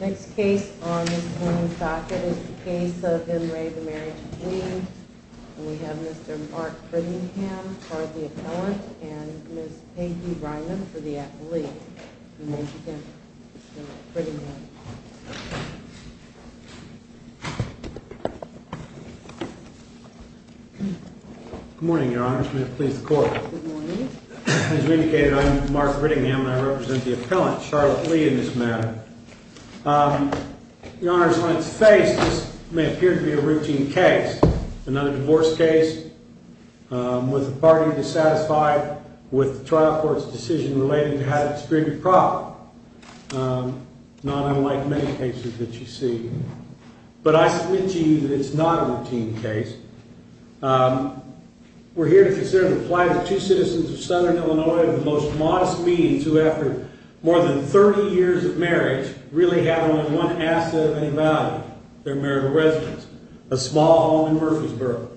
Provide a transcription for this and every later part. Next case on this morning's docket is the case of M. Ray, the Marriage of Lee, and we have Mr. Mark Priddingham for the appellant, and Ms. Peggy Bryman for the applied, and then we'll begin with Mark Priddingham. Good morning, Your Honors. May it please the Court. Good morning. As we indicated, I'm Mark Priddingham, and I represent the appellant, Charlotte Lee, in this matter. Your Honors, on its face, this may appear to be a routine case, another divorce case, with the party dissatisfied with the trial court's decision relating to how to distribute profit, not unlike many cases that you see, but I submit to you that it's not a routine case. We're here to consider the plight of two citizens of Southern Illinois of the most modest means who, after more than 30 years of marriage, really have only one asset of any value, their marital residence, a small home in Murfreesboro.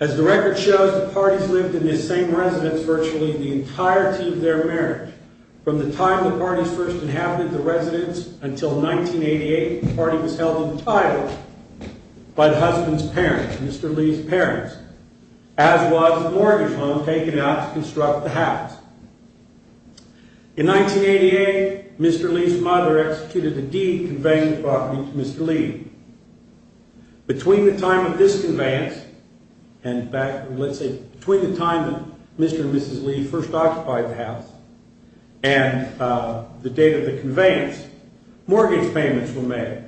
As the record shows, the parties lived in this same residence virtually the entirety of their marriage. From the time the parties first inhabited the residence until 1988, the party was held entitled by the husband's parents, Mr. Lee's parents, as was the mortgage loan taken out to construct the house. In 1988, Mr. Lee's mother executed a deed conveying the property to Mr. Lee. Between the time of this conveyance and, let's say, between the time that Mr. and Mrs. Lee first occupied the house and the date of the conveyance, mortgage payments were made.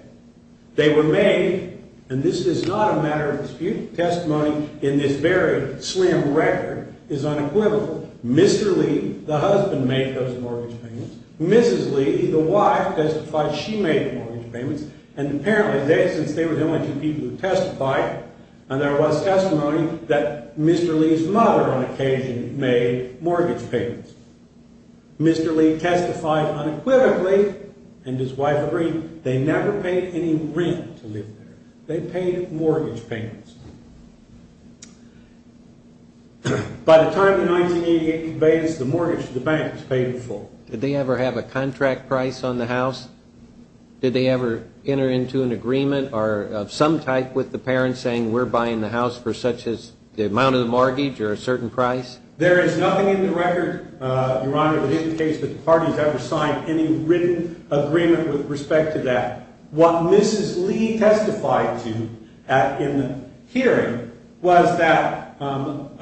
They were made, and this is not a matter of dispute, testimony in this very slim record is unequivocal. Mr. Lee, the husband, made those mortgage payments. Mrs. Lee, the wife, testified she made the mortgage payments, and apparently they, since they were the only two people who testified, and there was testimony that Mr. Lee's mother, on occasion, made mortgage payments. Mr. Lee testified unequivocally, and his wife agreed. They never paid any rent to live there. They paid mortgage payments. By the time of the 1988 conveyance, the mortgage to the bank was paid in full. Did they ever have a contract price on the house? Did they ever enter into an agreement of some type with the parents saying, we're buying the house for such-and-such the amount of the mortgage or a certain price? There is nothing in the record, Your Honor, that indicates that the parties ever signed any written agreement with respect to that. What Mrs. Lee testified to in the hearing was that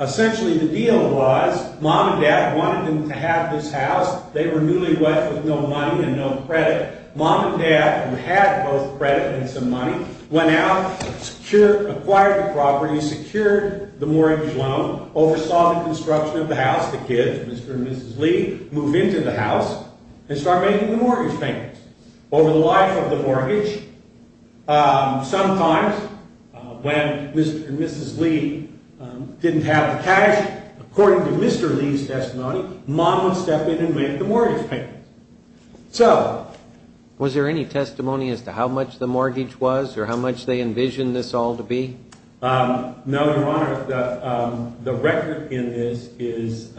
essentially the deal was mom and dad wanted them to have this house. They were newlyweds with no money and no credit. Mom and dad, who had both credit and some money, went out, acquired the property, secured the mortgage loan, oversaw the construction of the house. The kids, Mr. and Mrs. Lee, moved into the house and started making the mortgage payments. Over the life of the mortgage, sometimes when Mr. and Mrs. Lee didn't have the cash, according to Mr. Lee's testimony, mom would step in and make the mortgage payments. Was there any testimony as to how much the mortgage was or how much they envisioned this all to be? No, Your Honor. The record in this is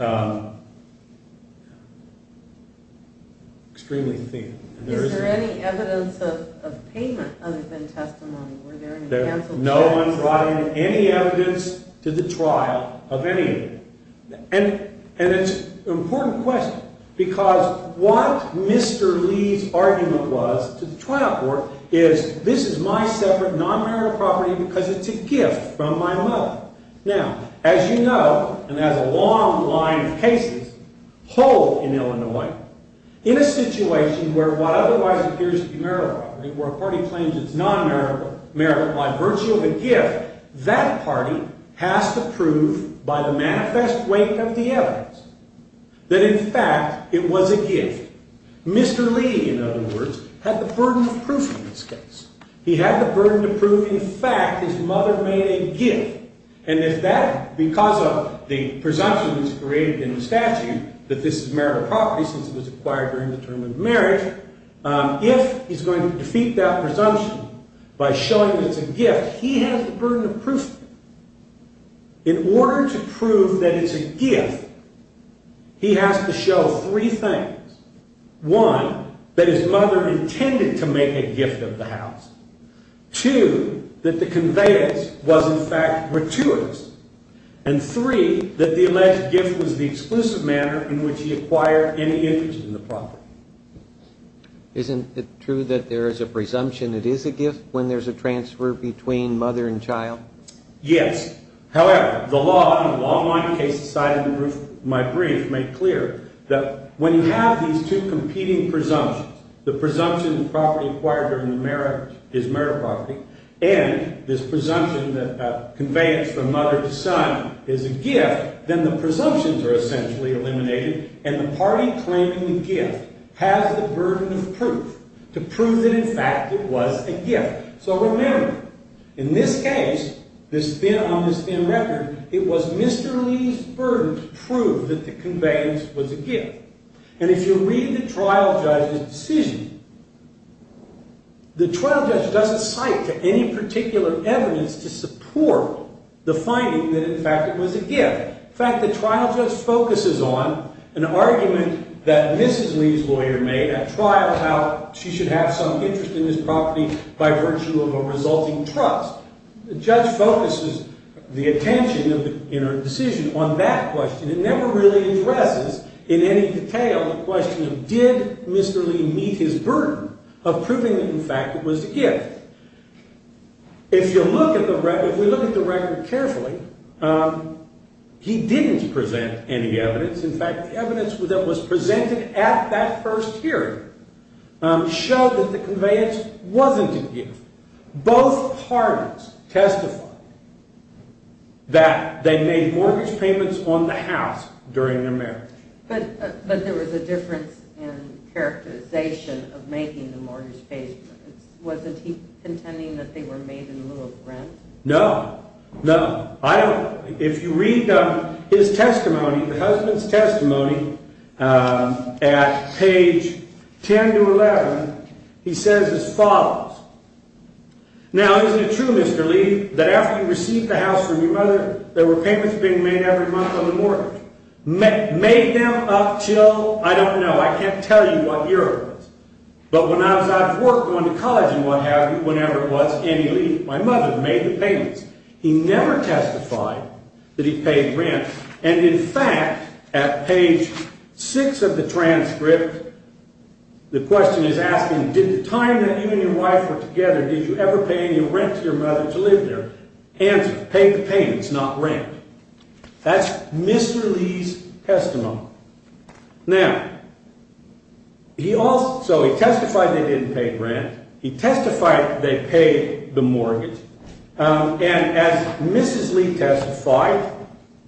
extremely thin. Is there any evidence of payment other than testimony? No one brought in any evidence to the trial of any of them. And it's an important question because what Mr. Lee's argument was to the trial court is this is my separate non-marital property because it's a gift from my mother. Now, as you know, and as a long line of cases hold in Illinois, in a situation where what otherwise appears to be marital property, where a party claims it's non-marital by virtue of a gift, that party has to prove by the manifest weight of the evidence that in fact it was a gift. Mr. Lee, in other words, had the burden of proof in this case. He had the burden to prove in fact his mother made a gift. And if that, because of the presumption that's created in the statute that this is marital property since it was acquired during the term of marriage, if he's going to defeat that presumption by showing that it's a gift, he has the burden of proof. In order to prove that it's a gift, he has to show three things. One, that his mother intended to make a gift of the house. Two, that the conveyance was in fact gratuitous. And three, that the alleged gift was the exclusive manner in which he acquired any interest in the property. Isn't it true that there is a presumption it is a gift when there's a transfer between mother and child? Yes. However, the law, in a long line of cases cited in my brief, made clear that when you have these two competing presumptions, the presumption that property acquired during the marriage is marital property, and this presumption that conveyance from mother to son is a gift, then the presumptions are essentially eliminated and the party claiming the gift has the burden of proof to prove that in fact it was a gift. So remember, in this case, on this thin record, it was Mr. Lee's burden to prove that the conveyance was a gift. And if you read the trial judge's decision, the trial judge doesn't cite any particular evidence to support the finding that in fact it was a gift. In fact, the trial judge focuses on an argument that Mrs. Lee's lawyer made at trial about she should have some interest in this property by virtue of a resulting trust. The judge focuses the attention in her decision on that question. It never really addresses in any detail the question of did Mr. Lee meet his burden of proving that in fact it was a gift. If you look at the record carefully, he didn't present any evidence. In fact, the evidence that was presented at that first hearing showed that the conveyance wasn't a gift. Both parties testified that they made mortgage payments on the house during the marriage. But there was a difference in characterization of making the mortgage payments. Wasn't he intending that they were made in lieu of rent? No, no. If you read his testimony, the husband's testimony, at page 10 to 11, he says as follows. Now, isn't it true, Mr. Lee, that after you received the house from your mother, there were payments being made every month on the mortgage? Made them up till, I don't know, I can't tell you what year it was. But when I was out of work going to college and what have you, whenever it was, Andy Lee, my mother, made the payments. He never testified that he paid rent. And in fact, at page 6 of the transcript, the question is asking, did the time that you and your wife were together, did you ever pay any rent to your mother to live there? Answer, paid the payments, not rent. That's Mr. Lee's testimony. Now, he also, he testified they didn't pay rent. He testified they paid the mortgage. And as Mrs. Lee testified,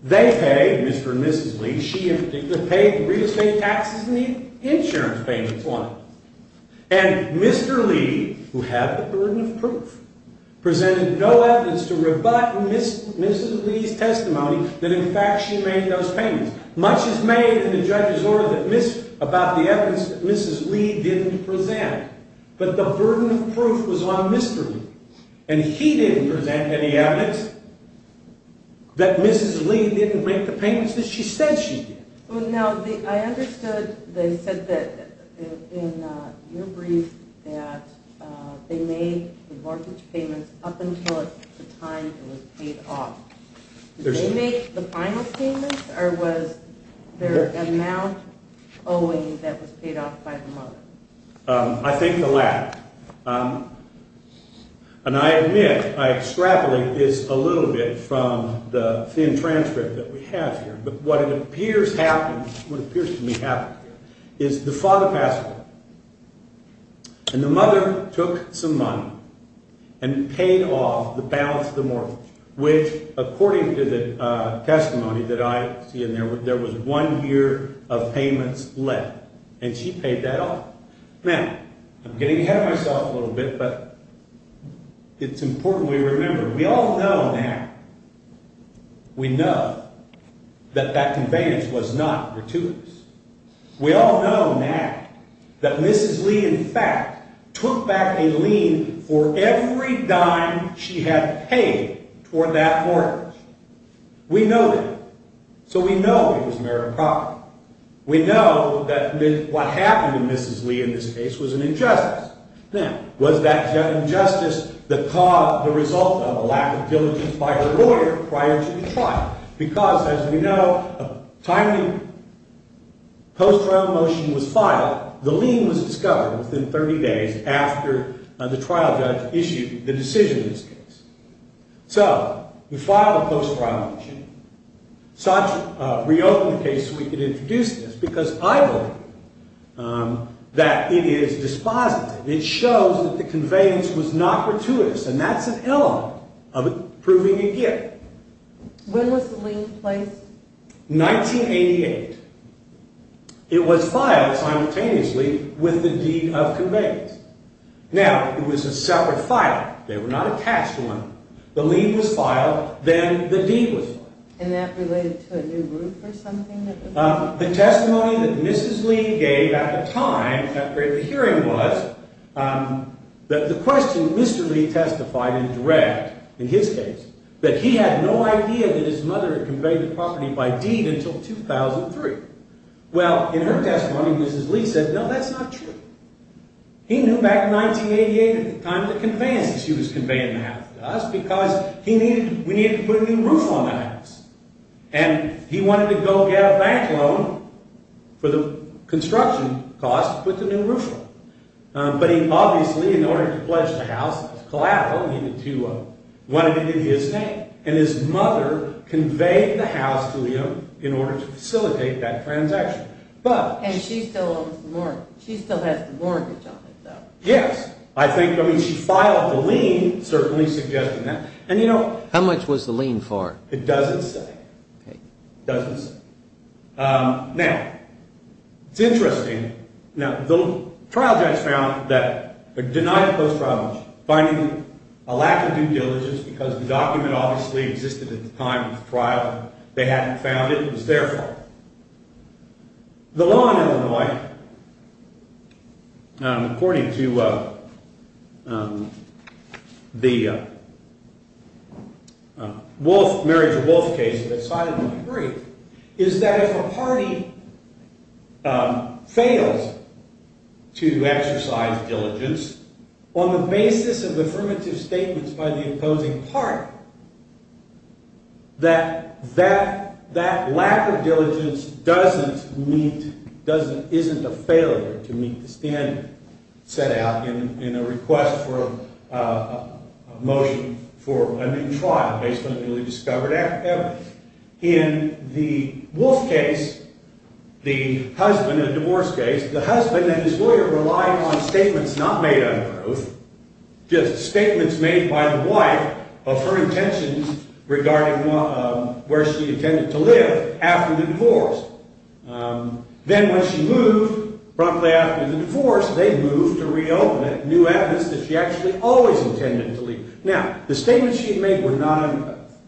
they paid, Mr. and Mrs. Lee, she in particular paid the real estate taxes and the insurance payments on it. And Mr. Lee, who had the burden of proof, presented no evidence to rebut Mrs. Lee's testimony that in fact she made those payments. Much is made in the judge's order about the evidence that Mrs. Lee didn't present. But the burden of proof was on Mr. Lee. And he didn't present any evidence that Mrs. Lee didn't make the payments that she said she did. Now, I understood they said that in your brief that they made the mortgage payments up until the time it was paid off. Did they make the final payments or was there an amount owing that was paid off by the mother? I think the latter. And I admit, I extrapolate this a little bit from the thin transcript that we have here. But what it appears happened, what appears to me happened, is the father passed away. And the mother took some money and paid off the balance of the mortgage, which according to the testimony that I see in there, there was one year of payments left. And she paid that off. Now, I'm getting ahead of myself a little bit, but it's important we remember. We all know now, we know that that conveyance was not gratuitous. We all know now that Mrs. Lee in fact took back a lien for every dime she had paid toward that mortgage. We know that. So we know it was merit property. We know that what happened to Mrs. Lee in this case was an injustice. Now, was that injustice the result of a lack of diligence by her lawyer prior to the trial? Because as we know, a timely post-trial motion was filed. The lien was discovered within 30 days after the trial judge issued the decision in this case. So we filed a post-trial motion. Reopen the case so we can introduce this, because I believe that it is dispositive. It shows that the conveyance was not gratuitous, and that's an element of proving a gift. When was the lien placed? 1988. It was filed simultaneously with the deed of conveyance. Now, it was a separate file. They were not attached to one another. The lien was filed. Then the deed was filed. And that related to a new roof or something? The testimony that Mrs. Lee gave at the time, after the hearing was, the question Mr. Lee testified in dread in his case, that he had no idea that his mother had conveyed the property by deed until 2003. Well, in her testimony, Mrs. Lee said, no, that's not true. He knew back in 1988 at the time the conveyance that she was conveying the house to us because we needed to put a new roof on the house. And he wanted to go get a bank loan for the construction cost to put the new roof on. But he obviously, in order to pledge the house, it was collateral. He wanted it in his name. And his mother conveyed the house to him in order to facilitate that transaction. And she still owns the mortgage. She still has the mortgage on it, though. Yes. I mean, she filed the lien certainly suggesting that. How much was the lien for? It doesn't say. Okay. It doesn't say. Now, it's interesting. Now, the trial judge found that a denied post-trial finding, a lack of due diligence because the document obviously existed at the time of the trial, they hadn't found it. It was their fault. The law in Illinois, according to the marriage of wolf case that cited the debris, is that if a party fails to exercise diligence on the basis of affirmative statements by the opposing party, that that lack of diligence doesn't meet, isn't a failure to meet the standard set out in a request for a motion for a new trial based on a newly discovered affidavit. In the wolf case, the husband in a divorce case, the husband and his lawyer relied on statements not made under oath, just statements made by the wife of her intentions regarding where she intended to live after the divorce. Then when she moved, promptly after the divorce, they moved to reopen a new address that she actually always intended to leave. Now, the statements she had made were not under oath.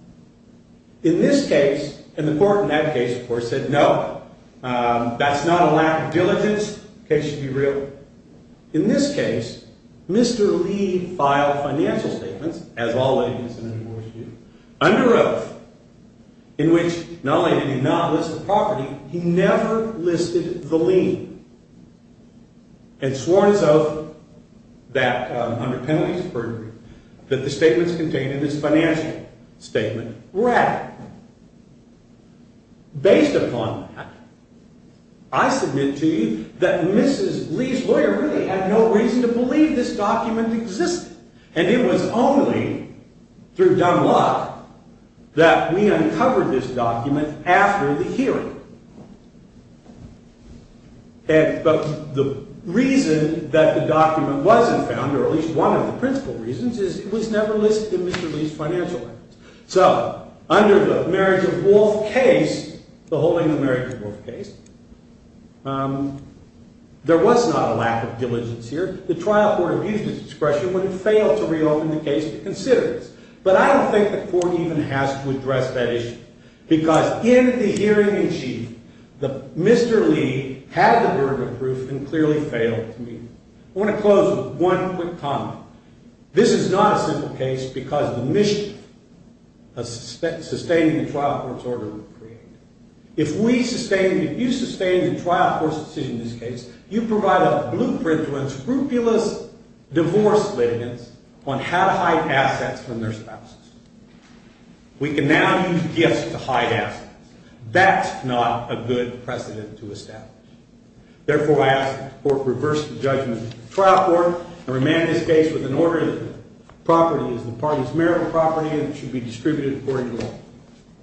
In this case, and the court in that case, of course, said no, that's not a lack of diligence, in case you'd be real. In this case, Mr. Lee filed financial statements, as all ladies in a divorce do, under oath, in which not only did he not list the property, he never listed the lien and sworn his oath that under penalties of perjury that the statements contained in his financial statement were accurate. Based upon that, I submit to you that Mrs. Lee's lawyer really had no reason to believe this document existed, and it was only through dumb luck that we uncovered this document after the hearing. But the reason that the document wasn't found, or at least one of the principal reasons, is it was never listed in Mr. Lee's financial statements. So, under the marriage of oath case, the holding of marriage of oath case, there was not a lack of diligence here. The trial court abused its discretion when it failed to reopen the case to consider this. But I don't think the court even has to address that issue, because in the hearing in chief, Mr. Lee had the burden of proof and clearly failed to meet it. I want to close with one quick comment. This is not a simple case because the mission of sustaining the trial court's order was created. If you sustain the trial court's decision in this case, you provide a blueprint to inscrupulous divorce litigants on how to hide assets from their spouses. We can now use gifts to hide assets. That's not a good precedent to establish. Therefore, I ask that the court reverse the judgment of the trial court and remand this case with an order that property is the parties' marital property and it should be distributed according to law.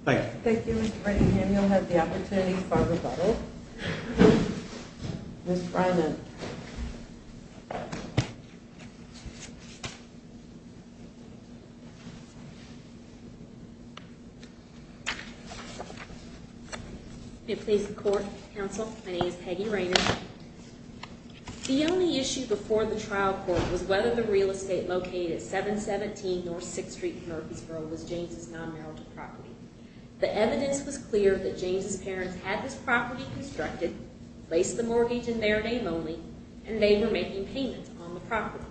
Thank you. Thank you, Mr. Brady. And you'll have the opportunity for a rebuttal. Ms. Reynard. May it please the court, counsel, my name is Peggy Reynard. The only issue before the trial court was whether the real estate located at 717 North 6th Street in Murfreesboro was James' non-marital property. The evidence was clear that James' parents had this property constructed, placed the mortgage in their name only, and they were making payments on the property.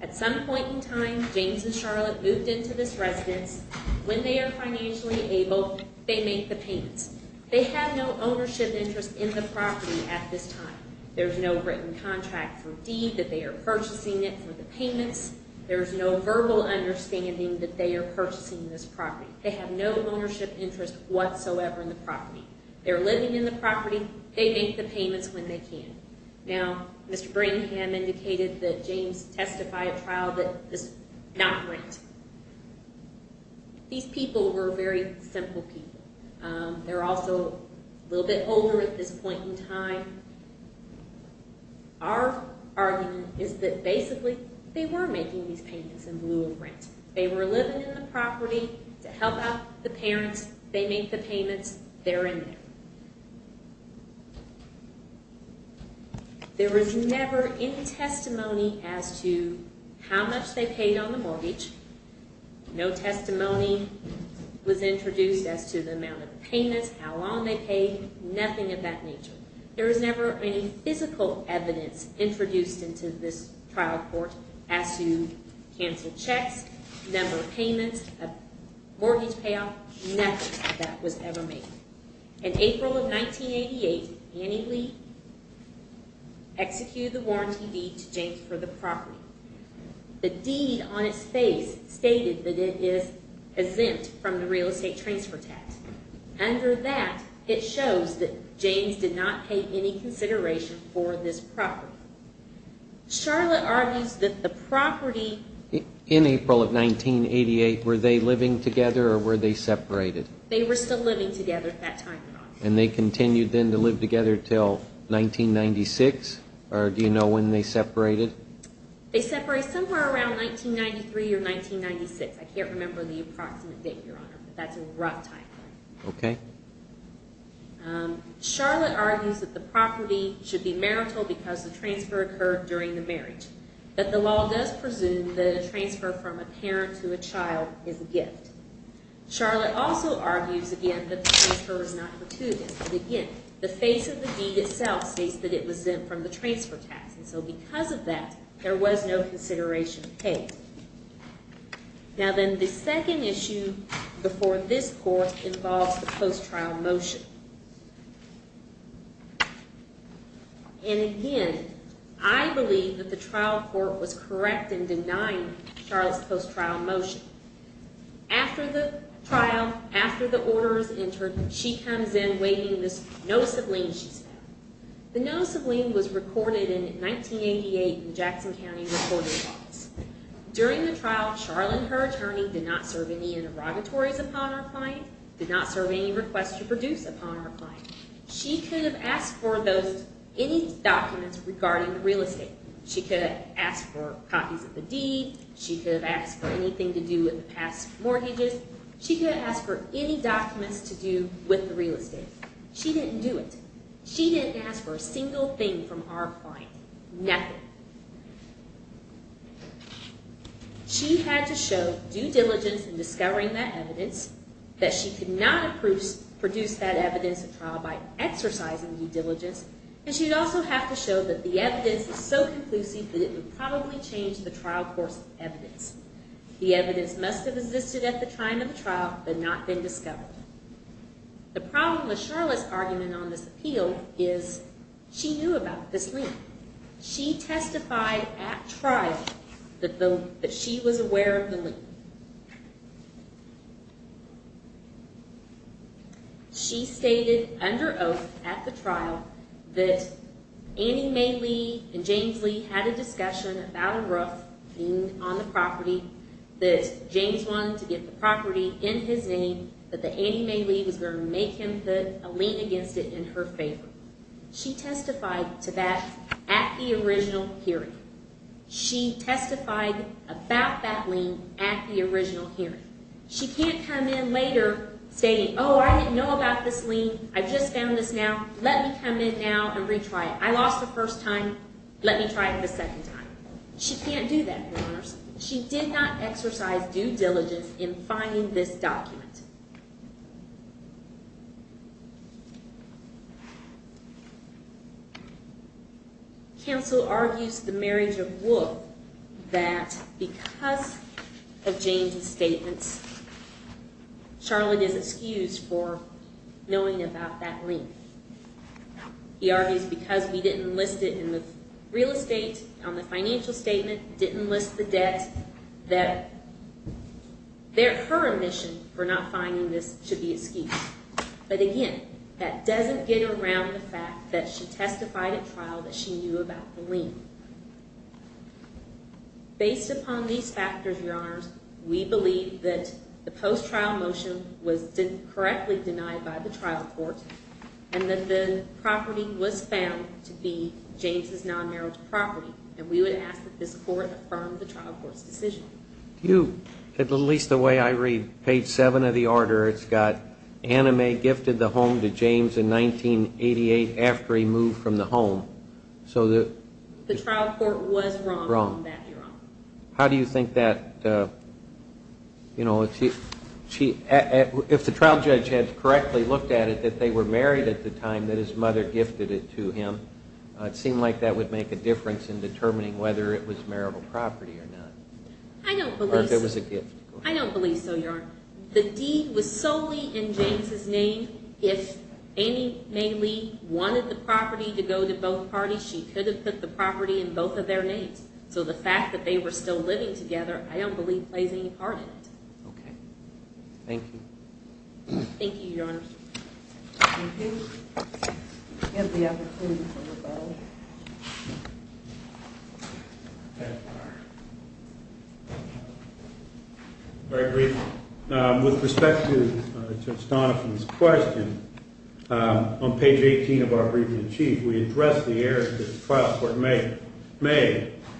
At some point in time, James and Charlotte moved into this residence. When they are financially able, they make the payments. They have no ownership interest in the property at this time. There's no written contract for deed that they are purchasing it for the payments. There's no verbal understanding that they are purchasing this property. They have no ownership interest whatsoever in the property. They're living in the property. They make the payments when they can. Now, Mr. Brigham indicated that James testified at trial that this is not rent. These people were very simple people. They're also a little bit older at this point in time. Our argument is that basically they were making these payments in lieu of rent. They were living in the property to help out the parents. They make the payments. They're in there. There was never any testimony as to how much they paid on the mortgage. No testimony was introduced as to the amount of payments, how long they paid. Nothing of that nature. There was never any physical evidence introduced into this trial court as to canceled checks, number of payments, mortgage payoff. Nothing of that was ever made. In April of 1988, Annie Lee executed the warranty deed to James for the property. The deed on its face stated that it is exempt from the real estate transfer tax. Under that, it shows that James did not pay any consideration for this property. Charlotte argues that the property... In April of 1988, were they living together or were they separated? They were still living together at that time, Your Honor. And they continued then to live together until 1996? Or do you know when they separated? They separated somewhere around 1993 or 1996. I can't remember the approximate date, Your Honor, but that's a rough time frame. Okay. Charlotte argues that the property should be marital because the transfer occurred during the marriage. But the law does presume that a transfer from a parent to a child is a gift. Charlotte also argues, again, that the transfer is not gratuitous. But again, the face of the deed itself states that it was exempt from the transfer tax. And so because of that, there was no consideration paid. Now then, the second issue before this court involves the post-trial motion. And again, I believe that the trial court was correct in denying Charlotte's post-trial motion. After the trial, after the order is entered, she comes in waiting this notice of lien she's had. The notice of lien was recorded in 1988 in the Jackson County Recorder's Office. During the trial, Charlotte and her attorney did not serve any interrogatories upon her client, did not serve any requests to produce upon her client. She could have asked for any documents regarding the real estate. She could have asked for copies of the deed. She could have asked for anything to do with the past mortgages. She could have asked for any documents to do with the real estate. She didn't do it. She didn't ask for a single thing from our client, nothing. She had to show due diligence in discovering that evidence, that she could not produce that evidence at trial by exercising due diligence, and she would also have to show that the evidence is so conclusive that it would probably change the trial course of evidence. The evidence must have existed at the time of the trial but not been discovered. The problem with Charlotte's argument on this appeal is she knew about this lien. She testified at trial that she was aware of the lien. She stated under oath at the trial that Annie Mae Lee and James Lee had a discussion about a roof being on the property, that James wanted to get the property in his name, that Annie Mae Lee was going to make him put a lien against it in her favor. She testified to that at the original hearing. She testified about that lien at the original hearing. She can't come in later saying, oh, I didn't know about this lien. I just found this now. Let me come in now and retry it. I lost the first time. Let me try it a second time. She can't do that, Your Honors. She did not exercise due diligence in finding this document. Counsel argues the marriage of Wool that because of James' statements, Charlotte is excused for knowing about that lien. He argues because we didn't list it in the real estate on the financial statement, didn't list the debt, that her admission for not finding this should be excused. But again, that doesn't get around the fact that she testified at trial that she knew about the lien. Based upon these factors, Your Honors, we believe that the post-trial motion was correctly denied by the trial court and that the property was found to be James' non-marital property. And we would ask that this court affirm the trial court's decision. At least the way I read page 7 of the order, it's got Anna Mae gifted the home to James in 1988 after he moved from the home. So the trial court was wrong on that, Your Honor. How do you think that, you know, if the trial judge had correctly looked at it that they were married at the time, that his mother gifted it to him, it seemed like that would make a difference in determining whether it was marital property or not. I don't believe so. Or if it was a gift. I don't believe so, Your Honor. The deed was solely in James' name. If Anna Mae Lee wanted the property to go to both parties, she could have put the property in both of their names. So the fact that they were still living together I don't believe plays any part in it. Okay. Thank you. Thank you, Your Honor. Thank you. We have the opportunity for rebuttal. Very briefly. With respect to Judge Donovan's question, on page 18 of our briefing in chief, we addressed the errors that the trial court made.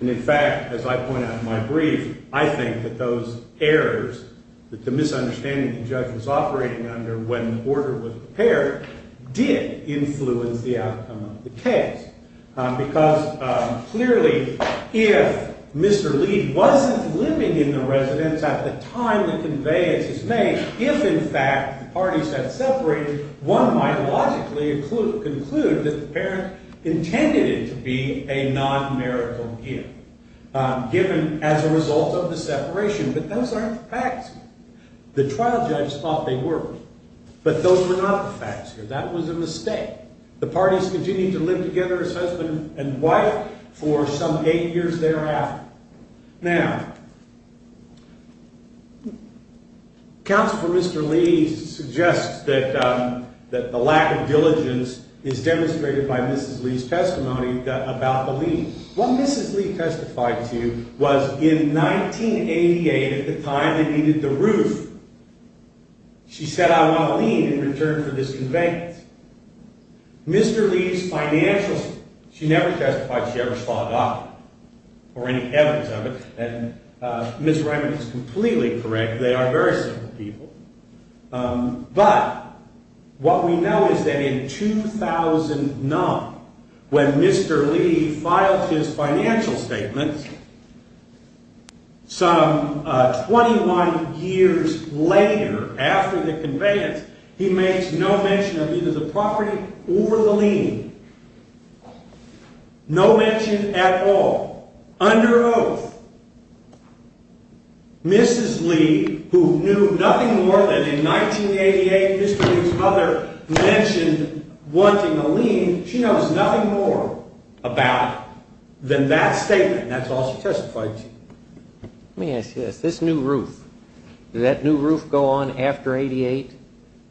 And, in fact, as I point out in my brief, I think that those errors that the misunderstanding the judge was operating under when the order was prepared did influence the outcome of the case. Because, clearly, if Mr. Lee wasn't living in the residence at the time the conveyance was made, if, in fact, the parties had separated, one might logically conclude that the parents intended it to be a non-marital gift, given as a result of the separation. But those aren't the facts here. The trial judges thought they were. But those were not the facts here. That was a mistake. The parties continued to live together as husband and wife for some eight years thereafter. Now, Counsel for Mr. Lee suggests that the lack of diligence is demonstrated by Mrs. Lee's testimony about the lease. What Mrs. Lee testified to was in 1988, at the time they needed the roof, she said, I want a lien in return for this conveyance. Mr. Lee's financial statement, she never testified she ever saw a doctor or any evidence of it. And Ms. Reiman is completely correct. They are very simple people. But what we know is that in 2009, when Mr. Lee filed his financial statement, some 21 years later, after the conveyance, he makes no mention of either the property or the lien. No mention at all. Under oath. Mrs. Lee, who knew nothing more than in 1988, Mr. Lee's mother mentioned wanting a lien, she knows nothing more about than that statement. That's all she testified to. Let me ask you this. This new roof, did that new roof go on after 88?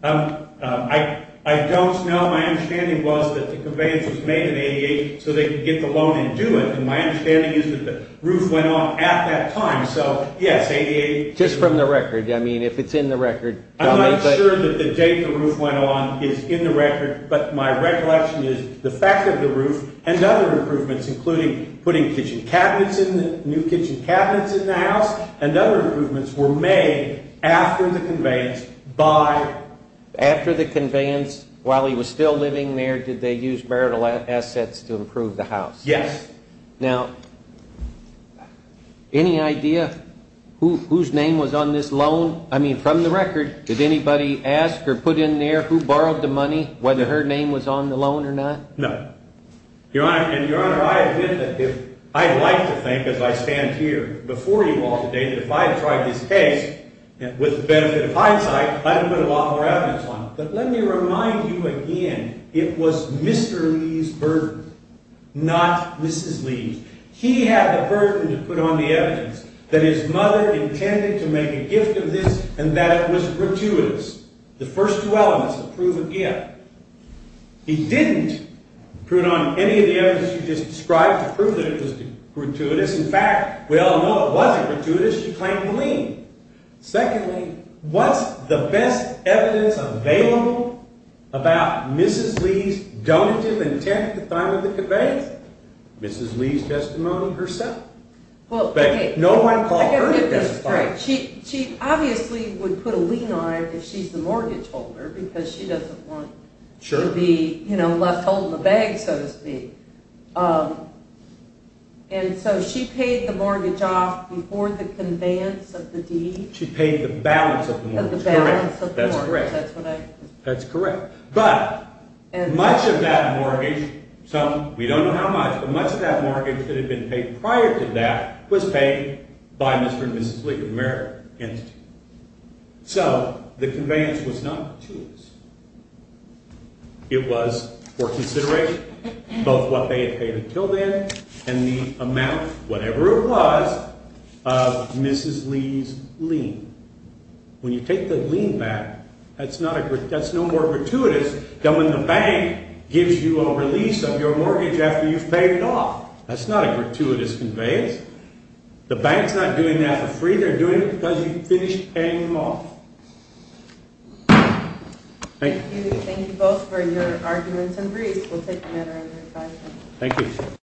I don't know. My understanding was that the conveyance was made in 88 so they could get the loan and do it. And my understanding is that the roof went on at that time. So, yes, 88. Just from the record. I mean, if it's in the record. I'm not sure that the date the roof went on is in the record, but my recollection is the fact that the roof and other improvements, including putting kitchen cabinets in the new kitchen cabinets in the house and other improvements were made after the conveyance by After the conveyance, while he was still living there, did they use marital assets to improve the house? Yes. Now, any idea whose name was on this loan? I mean, from the record, did anybody ask or put in there who borrowed the money, whether her name was on the loan or not? No. Your Honor, I admit that I'd like to think, as I stand here before you all today, that if I had tried this case, with the benefit of hindsight, I'd have put a lot more evidence on it. But let me remind you again, it was Mr. Lee's burden, not Mrs. Lee's. He had the burden to put on the evidence that his mother intended to make a gift of this and that it was gratuitous. The first two elements of proof of gift. He didn't put on any of the evidence you just described to prove that it was gratuitous. In fact, we all know it wasn't gratuitous. She claimed the lien. Secondly, what's the best evidence available about Mrs. Lee's donative intent at the time of the conveyance? Mrs. Lee's testimony herself. But no one called her to testify. She obviously would put a lien on it if she's the mortgage holder, because she doesn't want to be left holding the bag, so to speak. And so she paid the mortgage off before the conveyance of the deed? She paid the balance of the mortgage. That's correct. That's correct. But much of that mortgage, we don't know how much, but much of that mortgage that had been paid prior to that was paid by Mr. and Mrs. Lee of merit. So the conveyance was not gratuitous. It was for consideration both what they had paid until then and the amount, whatever it was, of Mrs. Lee's lien. When you take the lien back, that's no more gratuitous than when the bank gives you a release of your mortgage after you've paid it off. That's not a gratuitous conveyance. The bank's not doing that for free. They're doing it because you finished paying them off. Thank you. Thank you both for your arguments and briefs. We'll take them at our own discretion. Thank you.